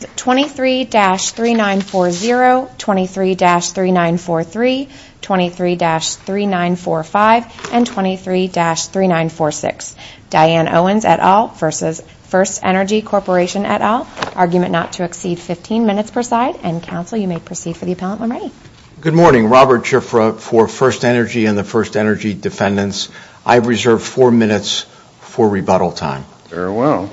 23-3940, 23-3943, 23-3945, and 23-3946. Diane Owens et al. v. FirstEnergy Corp. et al. Argument not to exceed 15 minutes per side. And counsel, you may proceed for the appellant when ready. Good morning. Robert Schifra for FirstEnergy and the FirstEnergy defendants. I reserve four minutes for rebuttal time. Very well.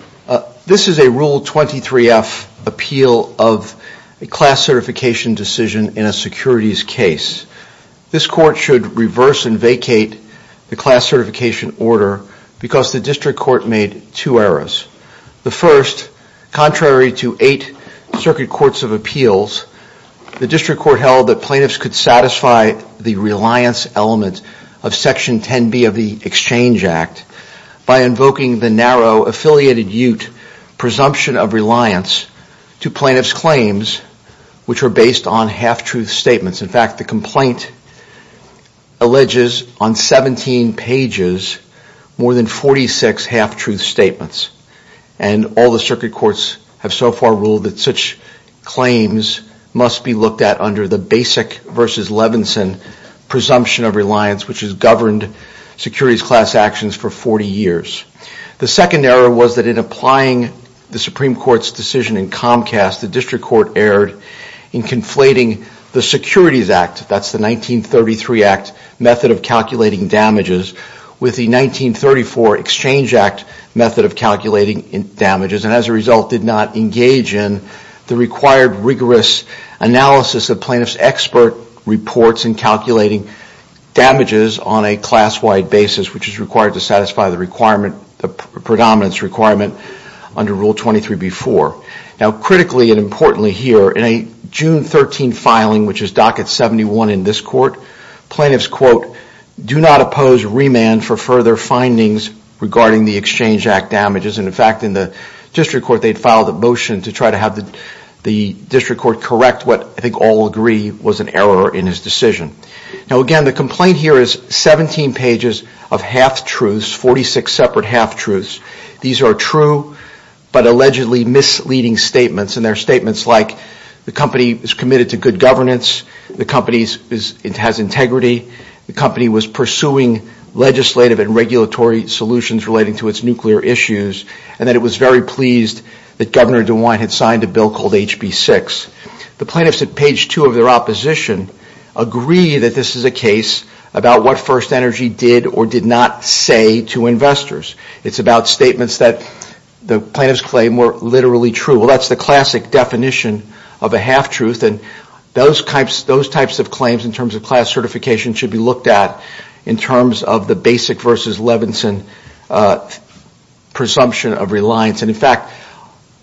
This is a Rule 23-F appeal of a class certification decision in a securities case. This court should reverse and vacate the class certification order because the district court made two errors. The first, contrary to eight circuit courts of appeals, the district court held that plaintiffs could satisfy the reliance element of Section 10b of the Exchange Act by invoking the narrow, affiliated-ute presumption of reliance to plaintiffs' claims which are based on half-truth statements. In fact, the complaint alleges on 17 pages more than 46 half-truth statements. And all the circuit courts have so far ruled that such claims must be looked at under the basic v. Levinson presumption of reliance which has governed securities class actions for 40 years. The second error was that in applying the Supreme Court's decision in Comcast, the district court erred in conflating the Securities Act, that's the 1933 Act method of calculating damages, with the 1934 Exchange Act method of calculating damages and as a result did not engage in the required rigorous analysis of plaintiffs' expert reports in calculating damages on a class-wide basis, which is required to satisfy the predominance requirement under Rule 23b-4. Now, critically and importantly here, in a June 13 filing, which is Docket 71 in this court, plaintiffs, quote, do not oppose remand for further findings regarding the Exchange Act damages. And in fact, in the district court, they'd filed a motion to try to have the district court correct what I think all agree was an error in his decision. Now, again, the complaint here is 17 pages of half-truths, 46 separate half-truths. These are true but allegedly misleading statements, and they're statements like the company is committed to good governance, the company has integrity, the company was pursuing legislative and regulatory solutions relating to its nuclear issues, and that it was very pleased that Governor DeWine had signed a bill called HB 6. The plaintiffs at page 2 of their opposition agree that this is a case about what First Energy did or did not say to investors. It's about statements that the plaintiff's claim were literally true. Well, that's the classic definition of a half-truth, and those types of claims in terms of class certification should be looked at in terms of the Basic v. Levinson presumption of reliance. And in fact,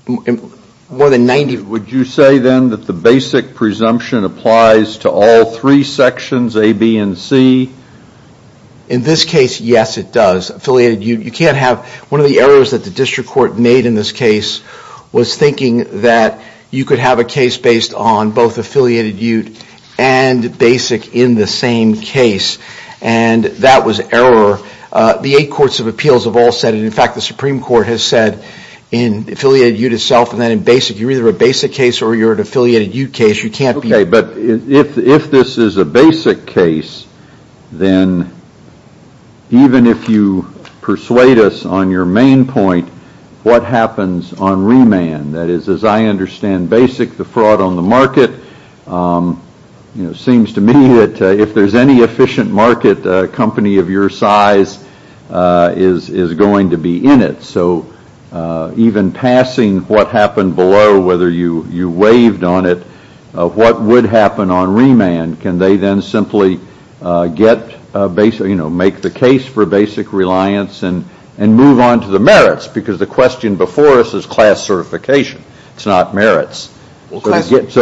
more than 90 of them. Would you say, then, that the Basic presumption applies to all three sections, A, B, and C? In this case, yes, it does. Affiliated Ute, you can't have one of the errors that the district court made in this case was thinking that you could have a case based on both and that was error. The eight courts of appeals have all said it. In fact, the Supreme Court has said in Affiliated Ute itself and then in Basic, you're either a Basic case or you're an Affiliated Ute case. Okay, but if this is a Basic case, then even if you persuade us on your main point, what happens on remand? That is, as I understand Basic, the fraud on the market, it seems to me that if there's any efficient market, a company of your size is going to be in it. So even passing what happened below, whether you waived on it, what would happen on remand? Can they then simply make the case for Basic reliance and move on to the merits? Because the question before us is class certification. It's not merits. So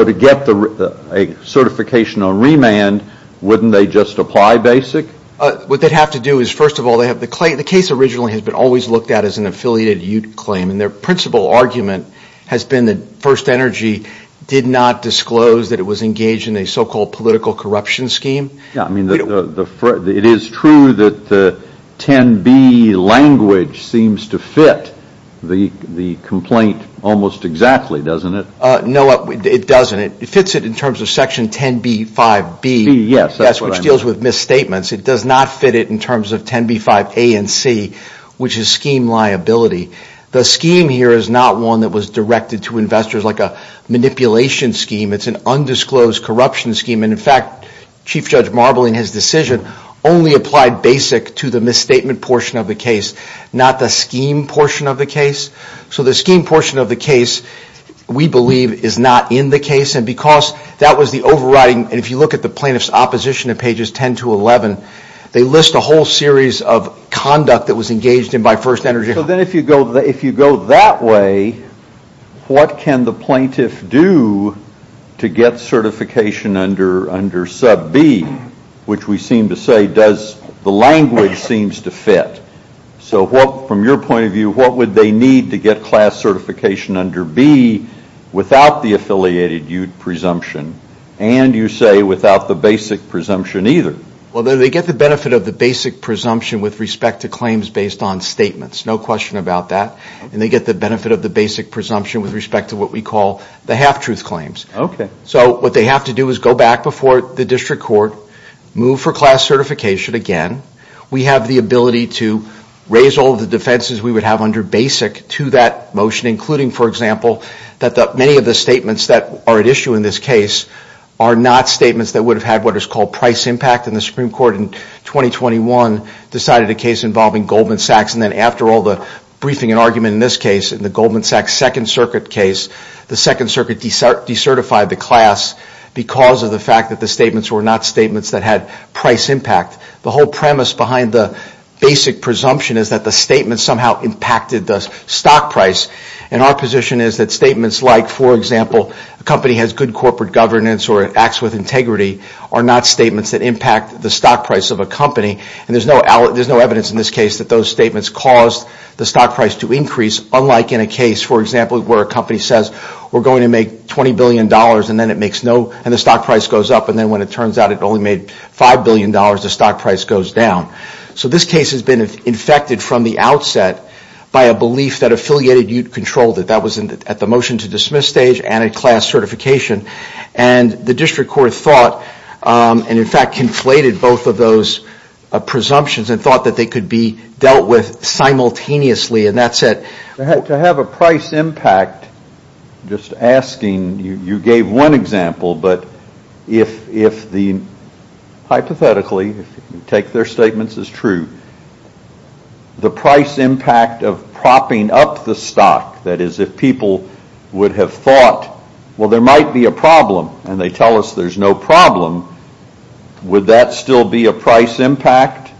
to get a certification on remand, wouldn't they just apply Basic? What they'd have to do is, first of all, the case originally has been always looked at as an Affiliated Ute claim and their principal argument has been that First Energy did not disclose that it was engaged in a so-called political corruption scheme. It is true that the 10B language seems to fit the complaint almost exactly, doesn't it? No, it doesn't. It fits it in terms of Section 10B-5B, which deals with misstatements. It does not fit it in terms of 10B-5A and C, which is scheme liability. The scheme here is not one that was directed to investors like a manipulation scheme. It's an undisclosed corruption scheme. In fact, Chief Judge Marbley, in his decision, only applied Basic to the misstatement portion of the case, not the scheme portion of the case. So the scheme portion of the case, we believe, is not in the case. Because that was the overriding... If you look at the plaintiff's opposition in pages 10 to 11, they list a whole series of conduct that was engaged in by First Energy. So then if you go that way, what can the plaintiff do to get certification under Sub B, which we seem to say the language seems to fit? So from your point of view, what would they need to get class certification under B without the affiliated presumption and, you say, without the Basic presumption either? Well, they get the benefit of the Basic presumption with respect to claims based on statements. No question about that. And they get the benefit of the Basic presumption with respect to what we call the half-truth claims. So what they have to do is go back before the district court, move for class certification again. We have the ability to raise all the defenses we would have under Basic to that motion, including, for example, that many of the statements that are at issue in this case are not statements that would have had what is called price impact. And the Supreme Court in 2021 decided a case involving Goldman Sachs. And then after all the briefing and argument in this case, in the Goldman Sachs Second Circuit case, the Second Circuit decertified the class because of the fact that the statements were not statements that had price impact. The whole premise behind the Basic presumption is that the statement somehow impacted the stock price. And our position is that statements like, for example, a company has good corporate governance or acts with integrity are not statements that impact the stock price of a company. And there's no evidence in this case that those statements caused the stock price to increase, unlike in a case, for example, where a company says we're going to make $20 billion and then it makes no and the stock price goes up and then when it turns out it only made $5 billion, the stock price goes down. So this case has been infected from the outset by a belief that affiliated ute controlled it. That was at the motion to dismiss stage and at class certification. And the District Court thought and in fact conflated both of those presumptions and thought that they could be dealt with simultaneously and that's it. To have a price impact, just asking, you gave one example, but if the, hypothetically, if you take their statements as true, the price impact of propping up the stock, that is if people would have thought, well there might be a problem and they tell us there's no problem, would that still be a price impact?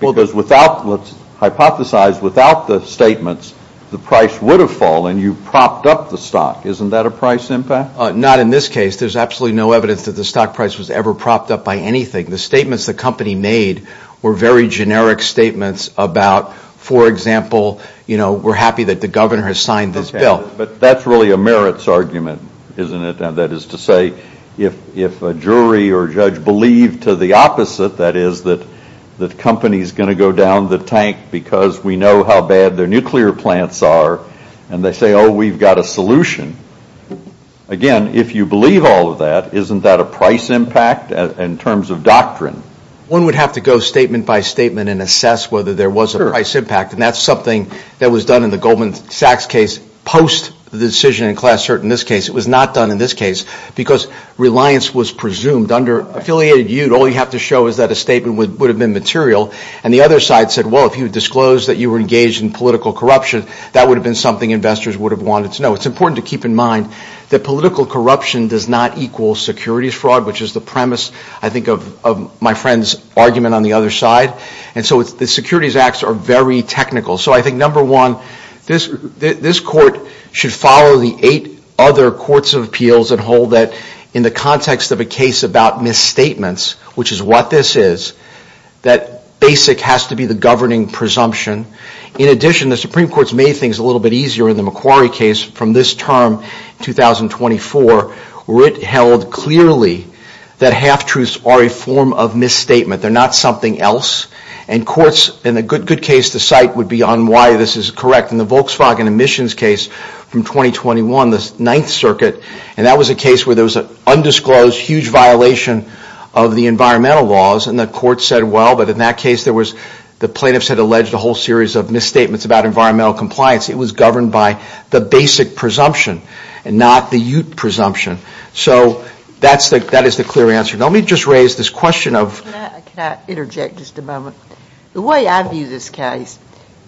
Because without, let's hypothesize, without the statements, the price would have fallen. You propped up the stock. Isn't that a price impact? Not in this case. There's absolutely no evidence that the stock price was ever propped up by anything. The statements the company made were very generic statements about, for example, you know, we're happy that the governor has signed this bill. But that's really a merits argument, isn't it? That is to say, if a jury or judge believed to the opposite, that is, that the company is going to go down the tank because we know how bad their nuclear plants are and they say, oh, we've got a solution. Again, if you believe all of that, isn't that a price impact in terms of doctrine? One would have to go statement by statement and assess whether there was a price impact. And that's something that was done in the Goldman Sachs case post the decision in Class Cert. In this case, it was not done in this case because reliance was presumed under affiliated use. All you have to show is that a statement would have been material. And the other side said, well, if you disclosed that you were engaged in political corruption, that would have been something investors would have wanted to know. It's important to keep in mind that political corruption does not equal securities fraud, which is the premise, I think, of my friend's argument on the other side. And so the securities acts are very technical. So I think, number one, this court should follow the eight other courts of appeals and hold that in the context of a case about misstatements, which is what this is, that basic has to be the governing presumption. In addition, the Supreme Court's made things a little bit easier in the Macquarie case from this term, 2024, where it held clearly that half-truths are a form of misstatement. They're not something else. And courts, in a good case, the site would be on why this is correct. In the Volkswagen emissions case from 2021, the Ninth Circuit, and that was a case where there was an undisclosed huge violation of the environmental laws. And the court said, well, but in that case, the plaintiffs had alleged a whole series of misstatements about environmental compliance. It was governed by the basic presumption and not the ute presumption. So that is the clear answer. Now, let me just raise this question of – the way I view this case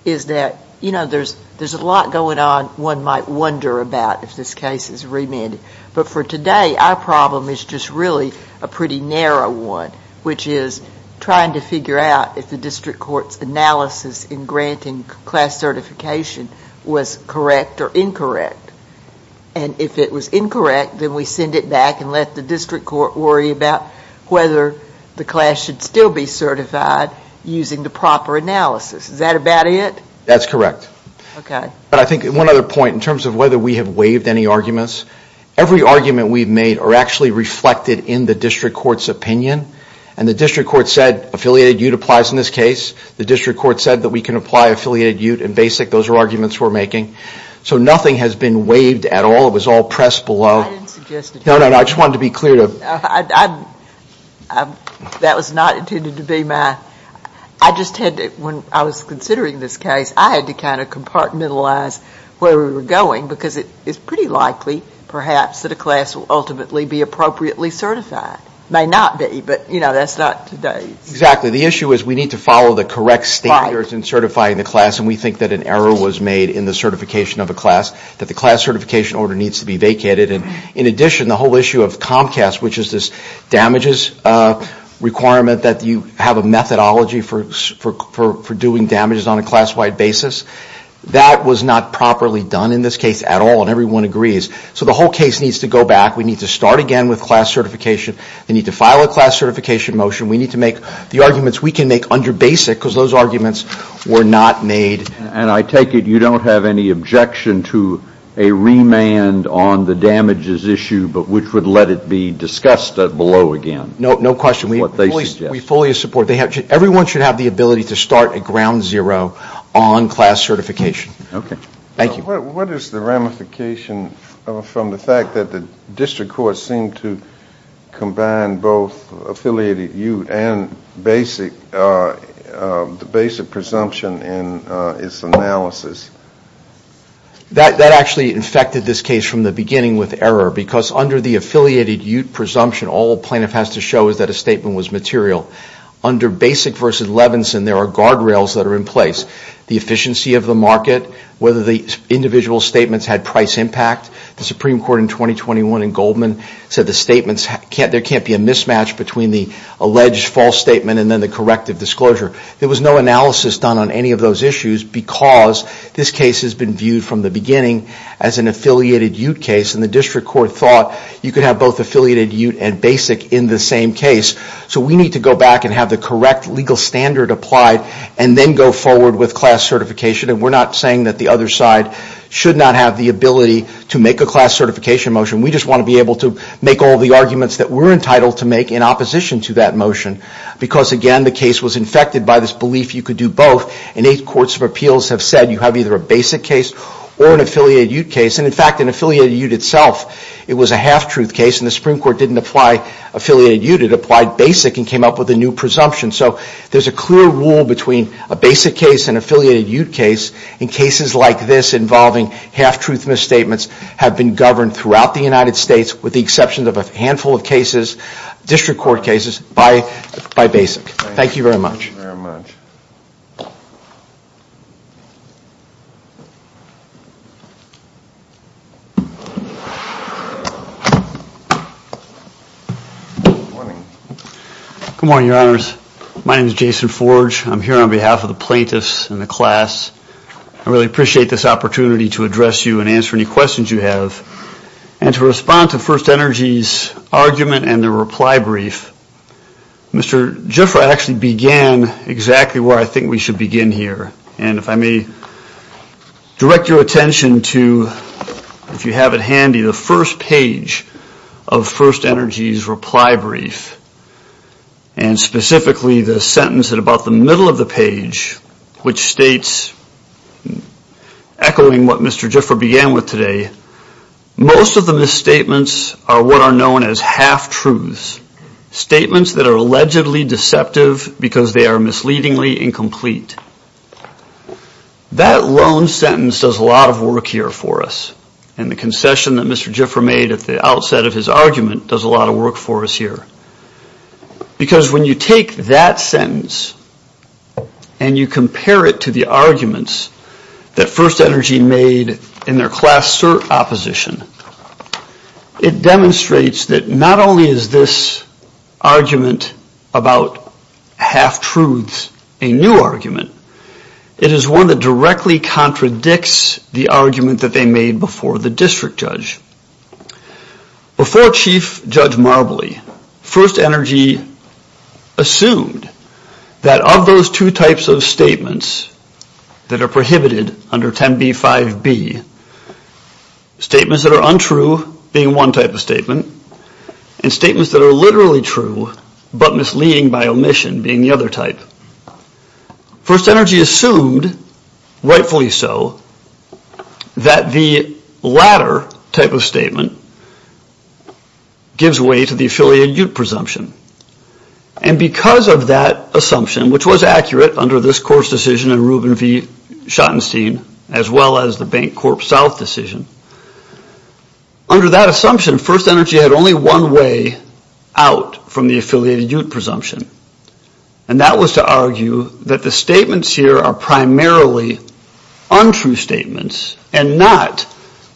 is that, you know, there's a lot going on one might wonder about if this case is remanded. But for today, our problem is just really a pretty narrow one, which is trying to figure out if the district court's analysis in granting class certification was correct or incorrect. And if it was incorrect, then we send it back and let the district court worry about whether the class should still be certified using the proper analysis. Is that about it? That's correct. Okay. But I think one other point in terms of whether we have waived any arguments, every argument we've made are actually reflected in the district court's opinion. And the district court said affiliated ute applies in this case. The district court said that we can apply affiliated ute and basic. Those are arguments we're making. So nothing has been waived at all. It was all pressed below. I didn't suggest it. No, no, no. I just wanted to be clear. That was not intended to be my – I just had to – when I was considering this case, I had to kind of compartmentalize where we were going because it's pretty likely, perhaps, that a class will ultimately be appropriately certified. It may not be, but, you know, that's not today's. Exactly. The issue is we need to follow the correct standards in certifying the class, and we think that an error was made in the certification of a class, that the class certification order needs to be vacated. And, in addition, the whole issue of Comcast, which is this damages requirement that you have a methodology for doing damages on a class-wide basis, that was not properly done in this case at all, and everyone agrees. So the whole case needs to go back. We need to start again with class certification. We need to file a class certification motion. We need to make the arguments we can make under basic because those arguments were not made. And I take it you don't have any objection to a remand on the damages issue, but which would let it be discussed below again. No, no question. We fully support it. Everyone should have the ability to start at ground zero on class certification. Okay. Thank you. What is the ramification from the fact that the district courts seem to combine both affiliated UTE and basic presumption in its analysis? That actually infected this case from the beginning with error because under the affiliated UTE presumption, all a plaintiff has to show is that a statement was material. Under basic versus Levinson, there are guardrails that are in place. The efficiency of the market, whether the individual statements had price impact, the Supreme Court in 2021 in Goldman said the statements, there can't be a mismatch between the alleged false statement and then the corrective disclosure. There was no analysis done on any of those issues because this case has been viewed from the beginning as an affiliated UTE case and the district court thought you could have both affiliated UTE and basic in the same case. So we need to go back and have the correct legal standard applied and then go forward with class certification. We're not saying that the other side should not have the ability to make a class certification motion. We just want to be able to make all the arguments that we're entitled to make in opposition to that motion because again, the case was infected by this belief you could do both and eight courts of appeals have said you have either a basic case or an affiliated UTE case. In fact, an affiliated UTE itself, it was a half-truth case and the Supreme Court didn't apply affiliated UTE. It applied basic and came up with a new presumption. So there's a clear rule between a basic case and an affiliated UTE case and cases like this involving half-truth misstatements have been governed throughout the United States with the exception of a handful of cases, district court cases, by basic. Thank you very much. Good morning, Your Honors. My name is Jason Forge. I'm here on behalf of the plaintiffs and the class. I really appreciate this opportunity to address you and answer any questions you have. And to respond to First Energy's argument and the reply brief, Mr. Gifford actually began his argument with the plaintiffs This is exactly where I think we should begin here. And if I may direct your attention to, if you have it handy, the first page of First Energy's reply brief and specifically the sentence at about the middle of the page, which states, echoing what Mr. Gifford began with today, most of the misstatements are what are known as half-truths, statements that are allegedly deceptive because they are misleadingly incomplete. That lone sentence does a lot of work here for us. And the concession that Mr. Gifford made at the outset of his argument does a lot of work for us here. Because when you take that sentence and you compare it to the arguments that First Energy made in their class cert opposition, it demonstrates that not only is this argument about half-truths a new argument, it is one that directly contradicts the argument that they made before the district judge. Before Chief Judge Marbley, First Energy assumed that of those two types of statements that are prohibited under 10b-5b, statements that are untrue being one type of statement, and statements that are literally true but misleading by omission being the other type. First Energy assumed, rightfully so, that the latter type of statement gives way to the affiliate ute presumption. And because of that assumption, which was accurate under this court's decision and Ruben v. Schottenstein, as well as the Bank Corp South decision, under that assumption First Energy had only one way out from the affiliated ute presumption. And that was to argue that the statements here are primarily untrue statements and not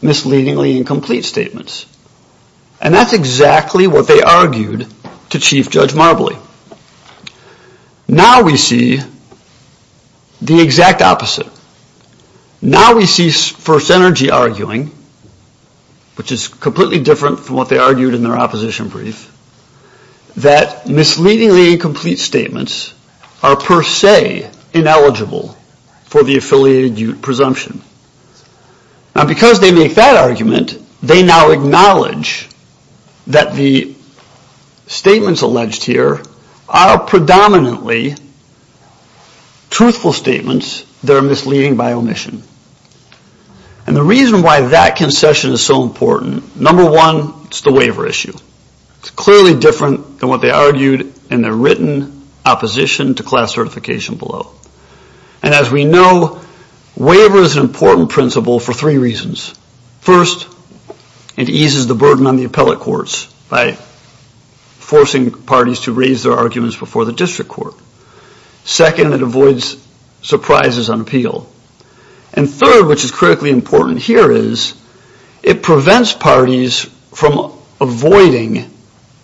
misleadingly incomplete statements. And that's exactly what they argued to Chief Judge Marbley. Now we see the exact opposite. Now we see First Energy arguing, which is completely different from what they argued in their opposition brief, that misleadingly incomplete statements are per se ineligible for the affiliated ute presumption. Now because they make that argument, they now acknowledge that the statements alleged here are predominantly truthful statements that are misleading by omission. And the reason why that concession is so important, number one, it's the waiver issue. It's clearly different than what they argued in their written opposition to class certification below. And as we know, waiver is an important principle for three reasons. First, it eases the burden on the appellate courts by forcing parties to raise their arguments before the district court. Second, it avoids surprises on appeal. And third, which is critically important here, is it prevents parties from avoiding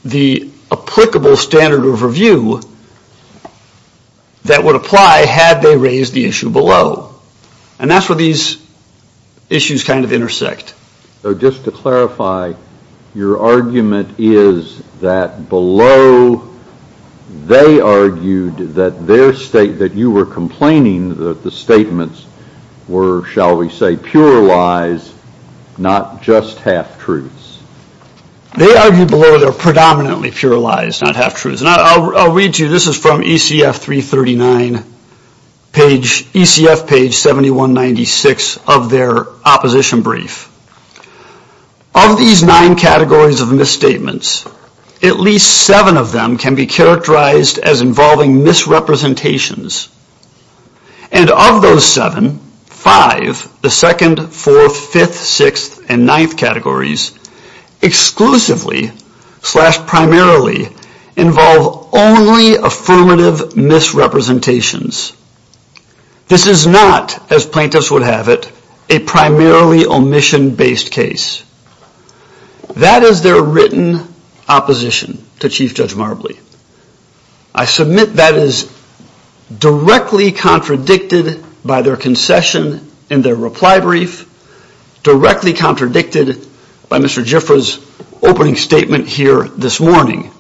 the applicable standard of review that would apply had they raised the issue below. And that's where these issues kind of intersect. So just to clarify, your argument is that below they argued that their state, that you were complaining that the statements were, shall we say, pure lies, not just half-truths. They argued below they're predominantly pure lies, not half-truths. And I'll read to you. This is from ECF page 7196 of their opposition brief. Of these nine categories of misstatements, at least seven of them can be characterized as involving misrepresentations. And of those seven, five, the second, fourth, fifth, sixth, and ninth categories exclusively, slash primarily, involve only affirmative misrepresentations. This is not, as plaintiffs would have it, a primarily omission-based case. That is their written opposition to Chief Judge Marbley. I submit that is directly contradicted by their concession in their reply brief, directly contradicted by Mr. Jiffra's opening statement here this morning,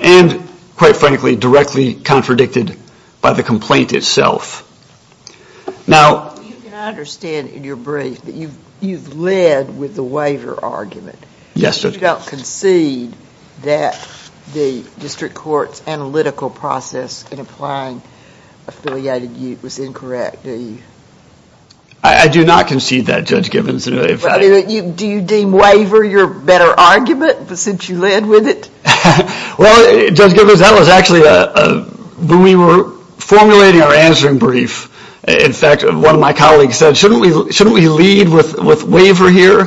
and quite frankly directly contradicted by the complaint itself. Now... Yes, Judge. You don't concede that the district court's analytical process in applying affiliated ute was incorrect, do you? I do not concede that, Judge Gibbons. Do you deem waiver your better argument, since you led with it? Well, Judge Gibbons, that was actually, when we were formulating our answering brief, in fact, one of my colleagues said, shouldn't we lead with waiver here?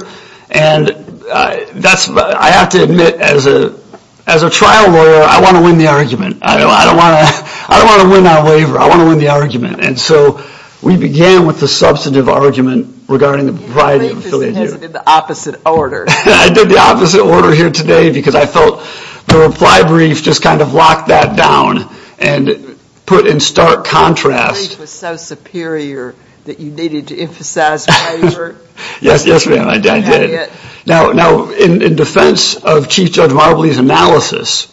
And I have to admit, as a trial lawyer, I want to win the argument. I don't want to win on waiver. I want to win the argument. And so we began with the substantive argument regarding the proprietary... I did the opposite order here today, because I felt the reply brief just kind of locked that down and put in stark contrast... Yes, ma'am, I did. Now, in defense of Chief Judge Marbley's analysis,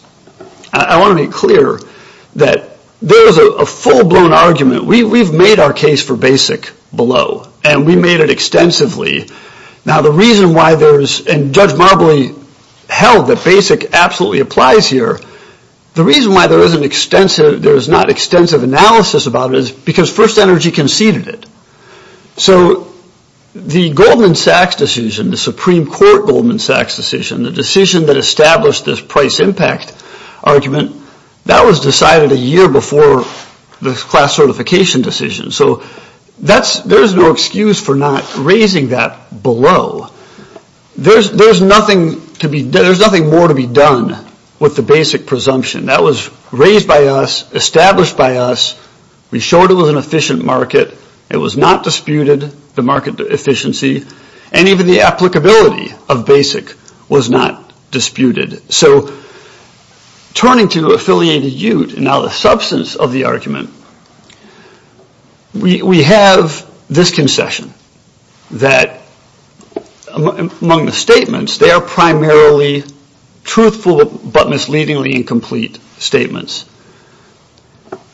I want to be clear that there is a full-blown argument. We've made our case for BASIC below, and we made it extensively. Now, the reason why there's... and Judge Marbley held that BASIC absolutely applies here. The reason why there is not extensive analysis about it is because First Energy conceded it. So the Goldman Sachs decision, the Supreme Court Goldman Sachs decision, the decision that established this price impact argument, that was decided a year before the class certification decision. So there's no excuse for not raising that below. There's nothing more to be done with the BASIC presumption. That was raised by us, established by us. We showed it was an efficient market. It was not disputed, the market efficiency, and even the applicability of BASIC was not disputed. So turning to affiliated ute and now the substance of the argument, we have this concession that among the statements, they are primarily truthful but misleadingly incomplete statements.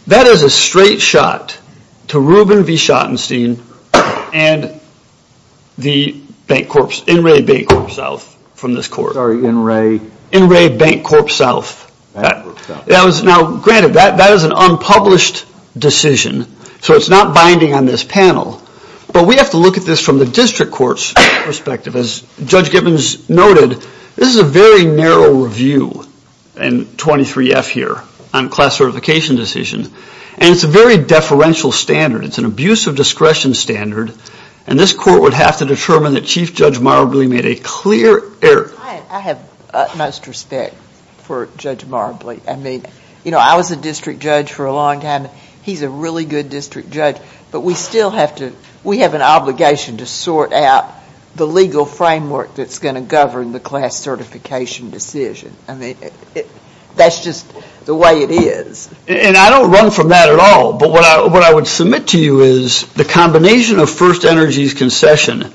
That is a straight shot to Ruben V. Schottenstein and the bank corps, In Re Bank Corp South from this court. Now granted, that is an unpublished decision, so it's not binding on this panel. But we have to look at this from the district court's perspective. As Judge Gibbons noted, this is a very narrow review in 23F here on class certification decision. And it's a very deferential standard. It's an abuse of discretion standard. And this court would have to determine that Chief Judge Marbley made a clear error. I have utmost respect for Judge Marbley. I was a district judge for a long time. He's a really good district judge. But we have an obligation to sort out the legal framework that's going to govern the class certification decision. That's just the way it is. And I don't run from that at all, but what I would submit to you is the combination of First Energy's concession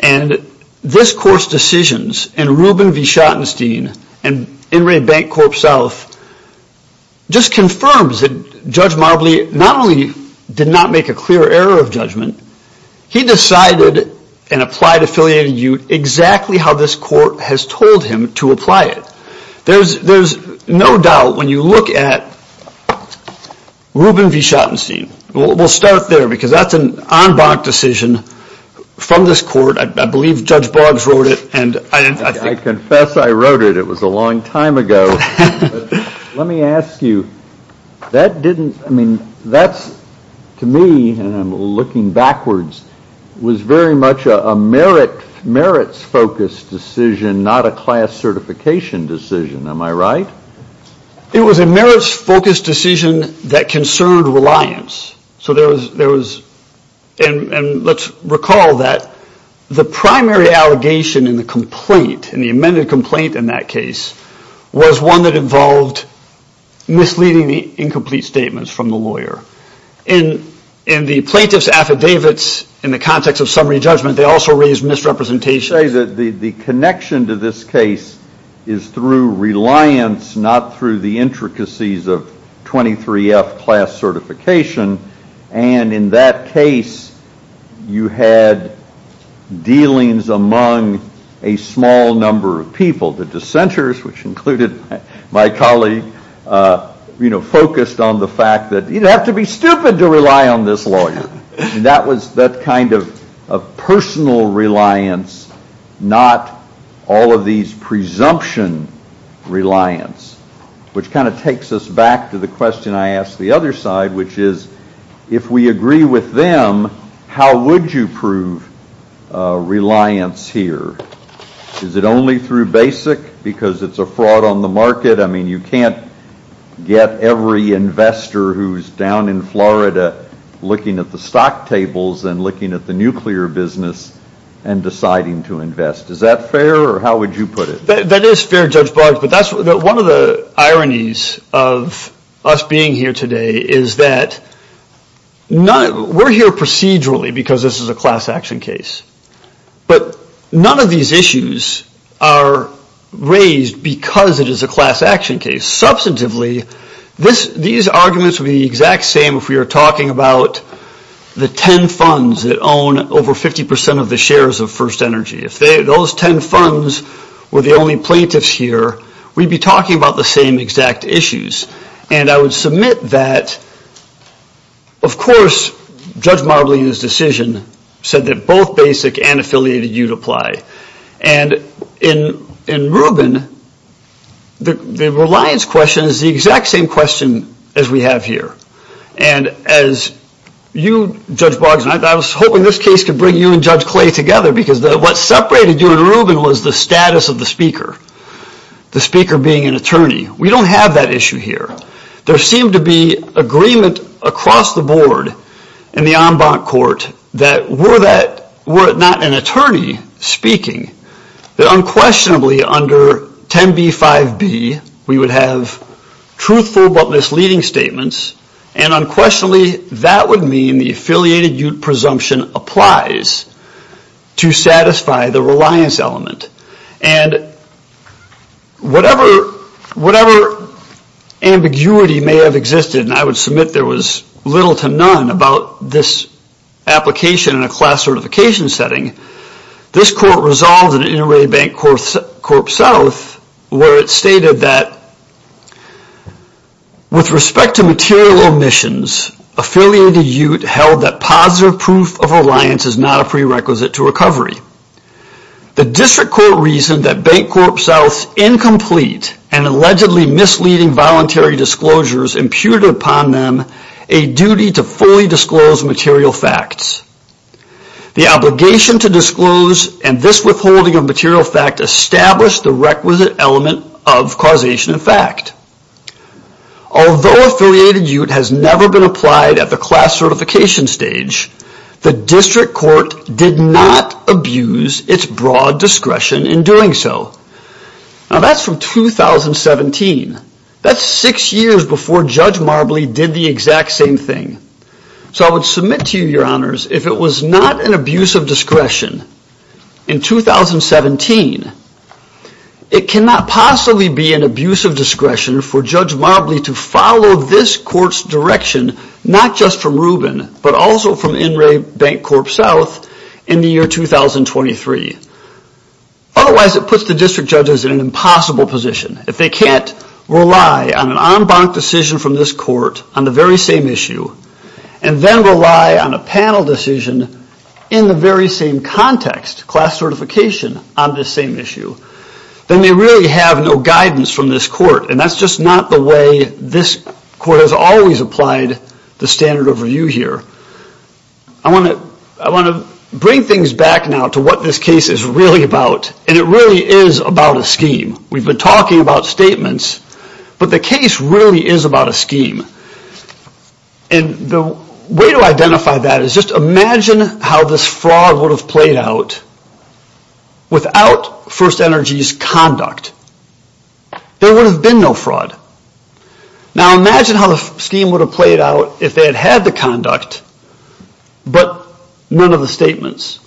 and this court's decisions and Ruben V. Schottenstein and In Re Bank Corp South just confirms that Judge Marbley not only did not make a clear error of judgment, he decided and applied affiliated ute exactly how this court has told him to apply it. There's no doubt when you look at Ruben V. Schottenstein. We'll start there because that's an en banc decision from this court. I believe Judge Boggs wrote it. I confess I wrote it. It was a long time ago. Let me ask you, that didn't, I mean, that's to me, and I'm looking backwards, was very much a merits-focused decision, not a class certification decision, am I right? It was a merits-focused decision that concerned reliance. And let's recall that the primary allegation in the complaint, in the amended complaint in that case, was one that involved misleading the incomplete statements from the lawyer. In the plaintiff's affidavits, in the context of summary judgment, they also raised misrepresentation. I would say that the connection to this case is through reliance, not through the intricacies of 23F class certification, and in that case you had dealings among a small number of people. The dissenters, which included my colleague, focused on the fact that it would be stupid to rely on this lawyer. That was that kind of personal reliance, not all of these presumption reliance, which kind of takes us back to the question I asked the other side, which is, if we agree with them, how would you prove reliance here? Is it only through BASIC, because it's a fraud on the market? I mean, you can't get every investor who's down in Florida looking at the stock tables and looking at the nuclear business and deciding to invest. Is that fair, or how would you put it? That is fair, Judge Barg, but one of the ironies of us being here today is that we're here procedurally because this is a class action case, but none of these issues are raised because it is a class action case. Substantively, these arguments would be the exact same if we were talking about the 10 funds that own over 50% of the shares of First Energy. If those 10 funds were the only plaintiffs here, we'd be talking about the same exact issues, and I would submit that, of course, Judge Marbley in his decision said that both BASIC and affiliated you'd apply. And in Rubin, the reliance question is the exact same question as we have here. And as you, Judge Barg, and I was hoping this case could bring you and Judge Clay together because what separated you and Rubin was the status of the speaker, the speaker being an attorney. We don't have that issue here. There seemed to be agreement across the board in the en banc court that were it not an attorney speaking, that unquestionably under 10b-5b we would have truthful but misleading statements, and unquestionably that would mean the affiliated you'd presumption applies to satisfy the reliance element. And whatever ambiguity may have existed, and I would submit there was little to none about this application in a class certification setting, this court resolved in Inter-Array Bank Corp South where it stated that with respect to material omissions, affiliated you'd held that positive proof of reliance is not a prerequisite to recovery. The district court reasoned that Bank Corp South's incomplete and allegedly misleading voluntary disclosures imputed upon them a duty to fully disclose material facts. The obligation to disclose and this withholding of material fact established the requisite element of causation of fact. Although affiliated you'd has never been applied at the class certification stage, the district court did not abuse its broad discretion in doing so. Now that's from 2017. That's six years before Judge Marbley did the exact same thing. So I would submit to you, your honors, if it was not an abuse of discretion in 2017, it cannot possibly be an abuse of discretion for Judge Marbley to follow this court's direction not just from Rubin, but also from Inter-Array Bank Corp South in the year 2023. Otherwise it puts the district judges in an impossible position. If they can't rely on an en banc decision from this court on the very same issue, and then rely on a panel decision in the very same context, class certification, on the same issue, then they really have no guidance from this court. And that's just not the way this court has always applied the standard of review here. I want to bring things back now to what this case is really about. And it really is about a scheme. We've been talking about statements, but the case really is about a scheme. And the way to identify that is just imagine how this fraud would have played out without First Energy's conduct. There would have been no fraud. Now imagine how the scheme would have played out if they had had the conduct, but none of the statements.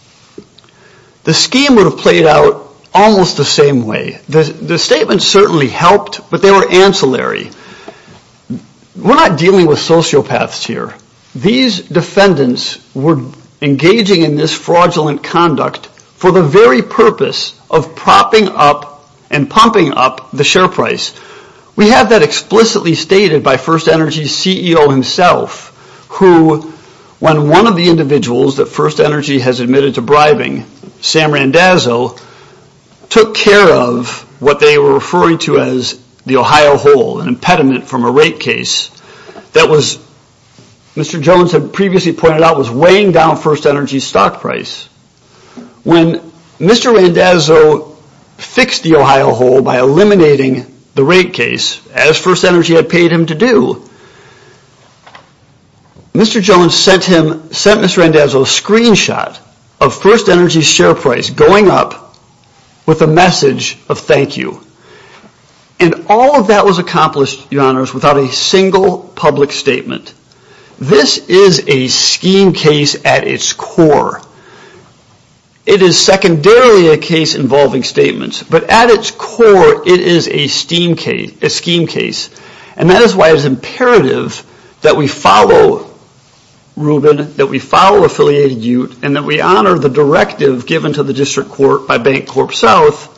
The scheme would have played out almost the same way. The statements certainly helped, but they were ancillary. We're not dealing with sociopaths here. These defendants were engaging in this fraudulent conduct for the very purpose of propping up and pumping up the share price. We have that explicitly stated by First Energy's CEO himself, who when one of the individuals that First Energy has admitted to bribing, Sam Randazzo, took care of what they were referring to as the Ohio hole, an impediment from a rate case that Mr. Jones had previously pointed out was weighing down First Energy's stock price. When Mr. Randazzo fixed the Ohio hole by eliminating the rate case, as First Energy had paid him to do, Mr. Jones sent Mr. Randazzo a screenshot of First Energy's share price going up with a message of thank you. And all of that was accomplished, Your Honors, without a single public statement. This is a scheme case at its core. It is secondarily a case involving statements, but at its core it is a scheme case. And that is why it is imperative that we follow Reuben, that we follow Affiliated Ute, and that we honor the directive given to the District Court by Bank Corp South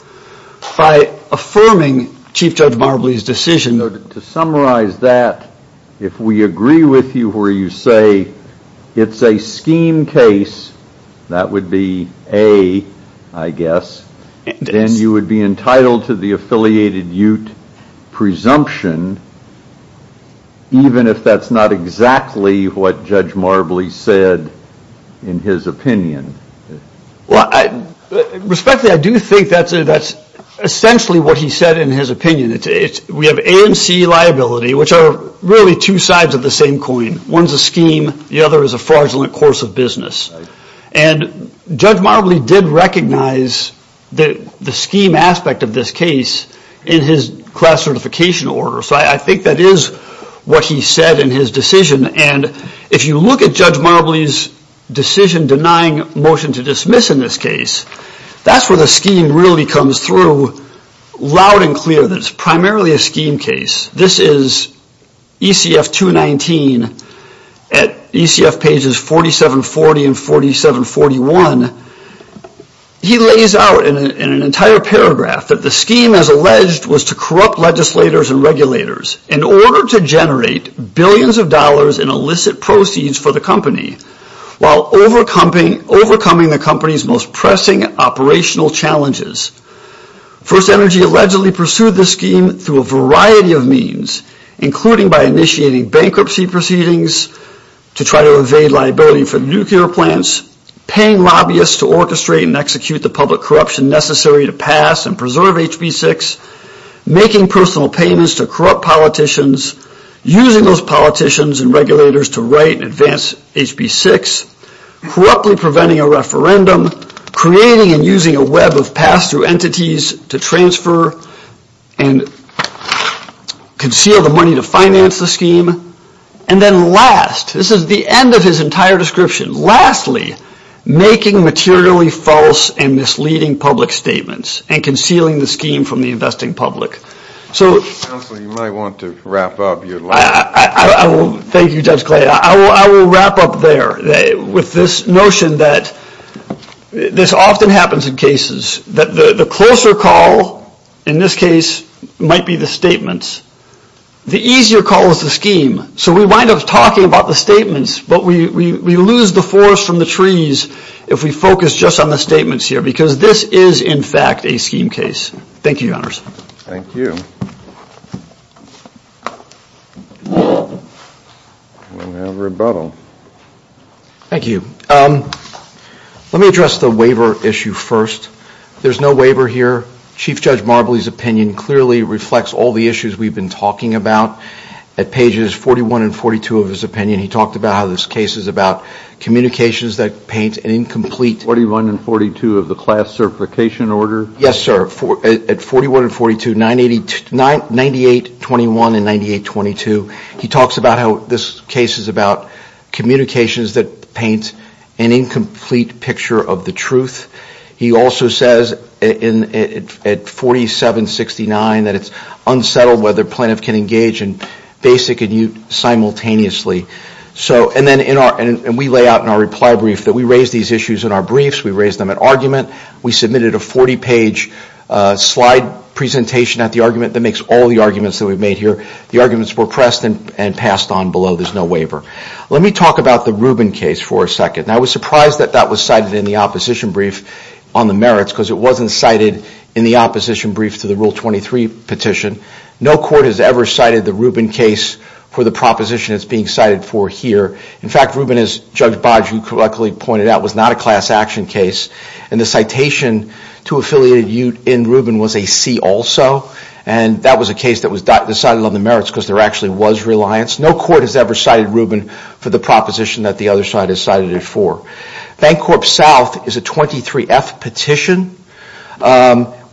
by affirming Chief Judge Marbley's decision. To summarize that, if we agree with you where you say it's a scheme case, that would be A, I guess, then you would be entitled to the Affiliated Ute presumption, even if that's not exactly what Judge Marbley said in his opinion. Respectfully, I do think that's essentially what he said in his opinion. We have A and C liability, which are really two sides of the same coin. One's a scheme, the other is a fraudulent course of business. And Judge Marbley did recognize the scheme aspect of this case in his class certification order. So I think that is what he said in his decision. And if you look at Judge Marbley's decision denying motion to dismiss in this case, that's where the scheme really comes through loud and clear that it's primarily a scheme case. This is ECF 219 at ECF pages 4740 and 4741. He lays out in an entire paragraph that the scheme, as alleged, was to corrupt legislators and regulators in order to generate billions of dollars in illicit proceeds for the company while overcoming the company's most pressing operational challenges. First Energy allegedly pursued this scheme through a variety of means, including by initiating bankruptcy proceedings to try to evade liability for nuclear plants, paying lobbyists to orchestrate and execute the public corruption necessary to pass and preserve HB6, making personal payments to corrupt politicians, using those politicians and regulators to write and advance HB6, corruptly preventing a referendum, creating and using a web of pass-through entities to transfer and conceal the money to finance the scheme, and then last, this is the end of his entire description, lastly, making materially false and misleading public statements and concealing the scheme from the investing public. Thank you, Judge Clay. I will wrap up there with this notion that this often happens in cases that the closer call, in this case, might be the statements. The easier call is the scheme. So we wind up talking about the statements, but we lose the forest from the trees if we focus just on the statements here, because this is, in fact, a scheme case. Thank you, Your Honors. Thank you. We have rebuttal. Thank you. Let me address the waiver issue first. There's no waiver here. Chief Judge Marbley's opinion clearly reflects all the issues we've been talking about. At pages 41 and 42 of his opinion, he talked about how this case is about communications that paint an incomplete... 41 and 42 of the class certification order? Yes, sir. At 41 and 42, 9821 and 9822, he talks about how this case is about communications that paint an incomplete picture of the truth. He also says at 4769 that it's unsettled whether plaintiff can engage in basic and mute simultaneously. And we lay out in our reply brief that we raise these issues in our briefs. We raise them at argument. We submitted a 40-page slide presentation at the argument that makes all the arguments that we've made here. The arguments were pressed and passed on below. There's no waiver. Let me talk about the Rubin case for a second. I was surprised that that was cited in the opposition brief on the merits because it wasn't cited in the opposition brief to the Rule 23 petition. No court has ever cited the Rubin case for the proposition it's being cited for here. In fact, Rubin, as Judge Bodge correctly pointed out, was not a class action case. And the citation to affiliated ute in Rubin was a C also. And that was a case that was decided on the merits because there actually was reliance. No court has ever cited Rubin for the proposition that the other side has cited it for. Bank Corp South is a 23F petition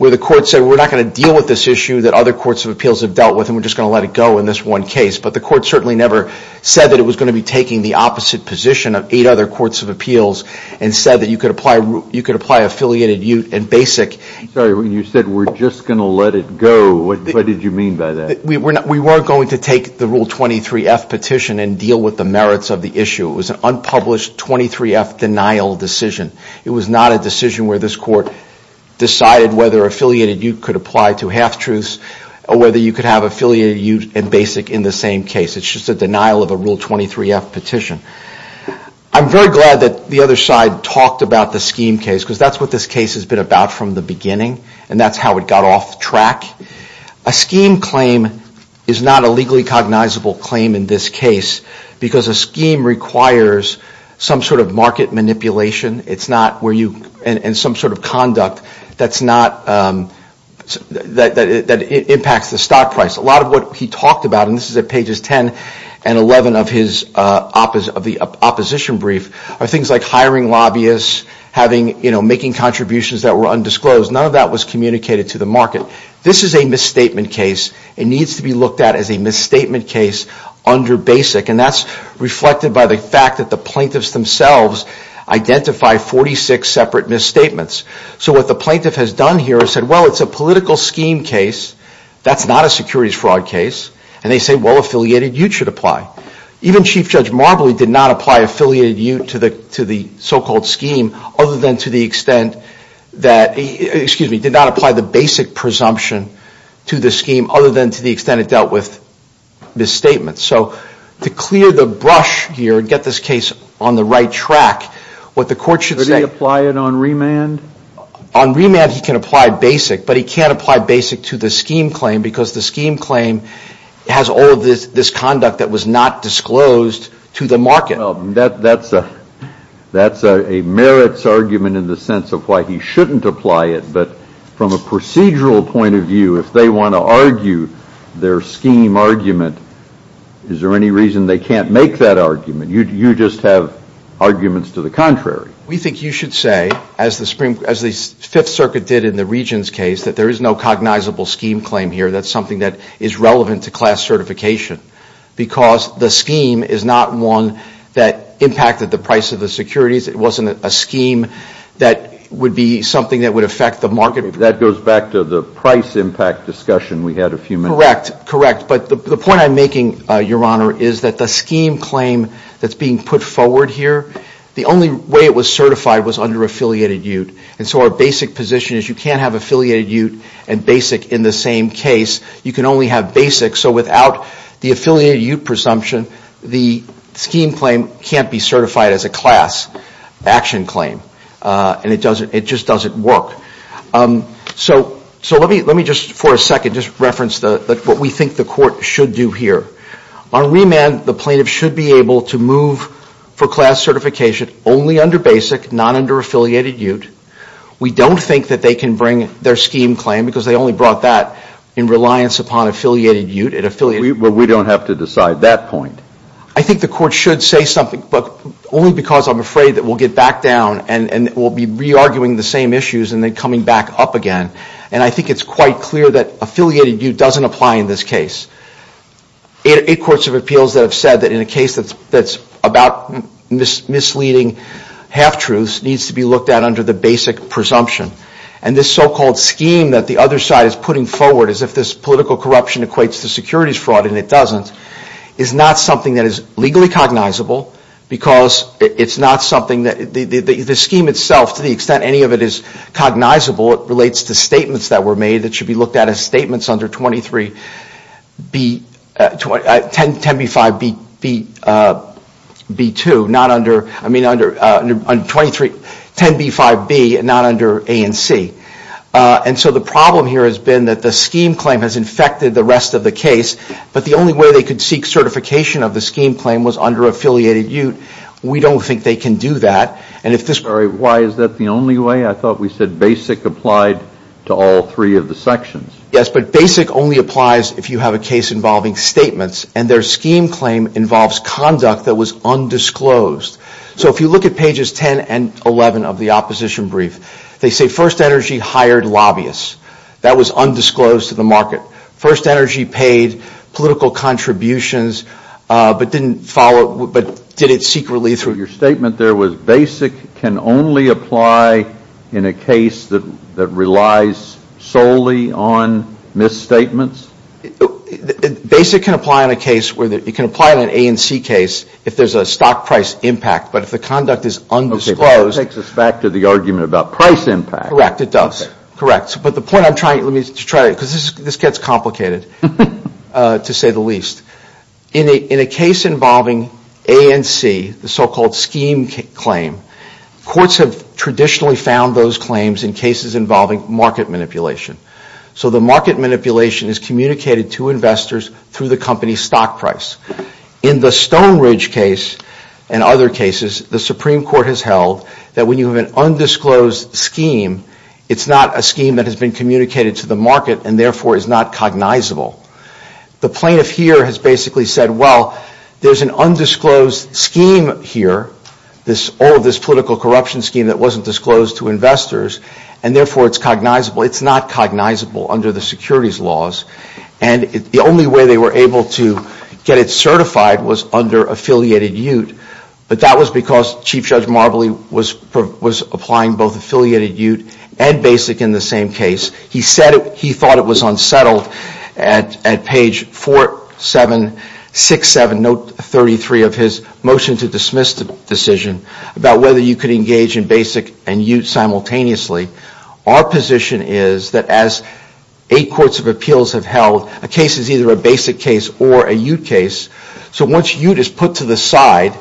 where the court said we're not going to deal with this issue that other courts of appeals have dealt with and we're just going to let it go in this one case. But the court certainly never said that it was going to be taking the opposite position of eight other courts of appeals and said that you could apply affiliated ute and basic. Sorry, when you said we're just going to let it go, what did you mean by that? We weren't going to take the Rule 23F petition and deal with the merits of the issue. It was an unpublished 23F denial decision. It was not a decision where this court decided whether affiliated ute could apply to half-truths or whether you could have affiliated ute and basic in the same case. It's just a denial of a Rule 23F petition. I'm very glad that the other side talked about the scheme case because that's what this case has been about from the beginning and that's how it got off track. A scheme claim is not a legally cognizable claim in this case because a scheme requires some sort of market manipulation and some sort of conduct that impacts the stock price. A lot of what he talked about, and this is at pages 10 and 11 of the opposition brief, are things like hiring lobbyists, making contributions that were undisclosed. None of that was communicated to the market. This is a misstatement case and needs to be looked at as a misstatement case under basic and that's reflected by the fact that the plaintiffs themselves identify 46 separate misstatements. So what the plaintiff has done here is said, well, it's a political scheme case. That's not a securities fraud case. And they say, well, affiliated ute should apply. Even Chief Judge Marbley did not apply affiliated ute to the so-called scheme other than to the extent that, excuse me, did not apply the basic presumption to the scheme other than to the extent it dealt with misstatements. So to clear the brush here and get this case on the right track, what the court should say Would he apply it on remand? On remand he can apply basic, but he can't apply basic to the scheme claim because the scheme claim has all of this conduct that was not disclosed to the market. That's a merits argument in the sense of why he shouldn't apply it. But from a procedural point of view, if they want to argue their scheme argument, is there any reason they can't make that argument? You just have arguments to the contrary. We think you should say, as the Fifth Circuit did in the Regents case, that there is no cognizable scheme claim here. That's something that is relevant to class certification because the scheme is not one that impacted the price of the securities. It wasn't a scheme that would be something that would affect the market. That goes back to the price impact discussion we had a few minutes ago. Correct. But the point I'm making, Your Honor, is that the scheme claim that's being put forward here, the only way it was certified was under affiliated ute. And so our basic position is you can't have affiliated ute and basic in the same case. You can only have basic. So without the affiliated ute presumption, the scheme claim can't be certified as a class action claim. And it just doesn't work. So let me just for a second just reference what we think the Court should do here. On remand, the plaintiff should be able to move for class certification only under basic, not under affiliated ute. We don't think that they can bring their scheme claim because they only brought that in reliance upon affiliated ute. Well, we don't have to decide that point. I think the Court should say something, but only because I'm afraid that we'll get back down and we'll be re-arguing the same issues and then coming back up again. And I think it's quite clear that affiliated ute doesn't apply in this case. Eight courts of appeals that have said that in a case that's about misleading half-truths needs to be looked at under the basic presumption. And this so-called scheme that the other side is putting forward as if this political corruption equates to securities fraud, and it doesn't, is not something that is legally cognizable because it's not something that the scheme itself, to the extent any of it is cognizable, it relates to statements that were made that should be looked at as statements under 10b-5b-2. Not under, I mean, under 10b-5b, not under a and c. And so the problem here has been that the scheme claim has infected the rest of the case, but the only way they could seek certification of the scheme claim was under affiliated ute. We don't think they can do that. Why is that the only way? I thought we said basic applied to all three of the sections. Yes, but basic only applies if you have a case involving statements, and their scheme claim involves conduct that was undisclosed. So if you look at pages 10 and 11 of the opposition brief, they say First Energy hired lobbyists. That was undisclosed to the market. First Energy paid political contributions, but didn't follow, but did it secretly through. Your statement there was basic can only apply in a case that relies solely on misstatements? Basic can apply in a case where, it can apply in an a and c case if there's a stock price impact, but if the conduct is undisclosed. It takes us back to the argument about price impact. In a case involving a and c, the so-called scheme claim, courts have traditionally found those claims in cases involving market manipulation. So the market manipulation is communicated to investors through the company's stock price. In the Stone Ridge case and other cases, the Supreme Court has held that when you have an undisclosed scheme, it's not a scheme that has been communicated to the market, and therefore is not cognizable. The plaintiff here has basically said, well, there's an undisclosed scheme here, all of this political corruption scheme that wasn't disclosed to investors, and therefore it's cognizable. And the only way they were able to get it certified was under affiliated ute, but that was because Chief Judge Marbley was applying both affiliated ute and basic in the same case. He said he thought it was unsettled at page 4767, note 33 of his motion to dismiss the decision, about whether you could engage in basic and ute simultaneously. Our position is that as eight courts of appeals have held, a case is either a basic case or a ute case, so once ute is put to the side,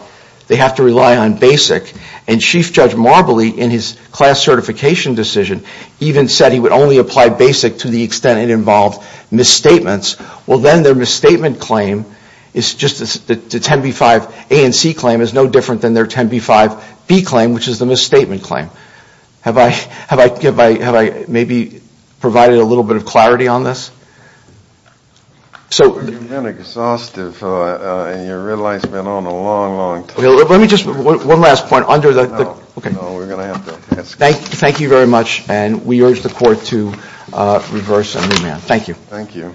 they have to rely on basic. And Chief Judge Marbley, in his class certification decision, even said he would only apply basic to the extent it involved misstatements. Well, then their misstatement claim is just the 10b-5 a and c claim is no different than their 10b-5 b claim, which is the misstatement claim. Have I maybe provided a little bit of clarity on this? You've been exhaustive, and your real life's been on a long, long time. Let me just, one last point. No, we're going to have to ask you. Thank you very much, and we urge the court to reverse and remand. Thank you. Thank you.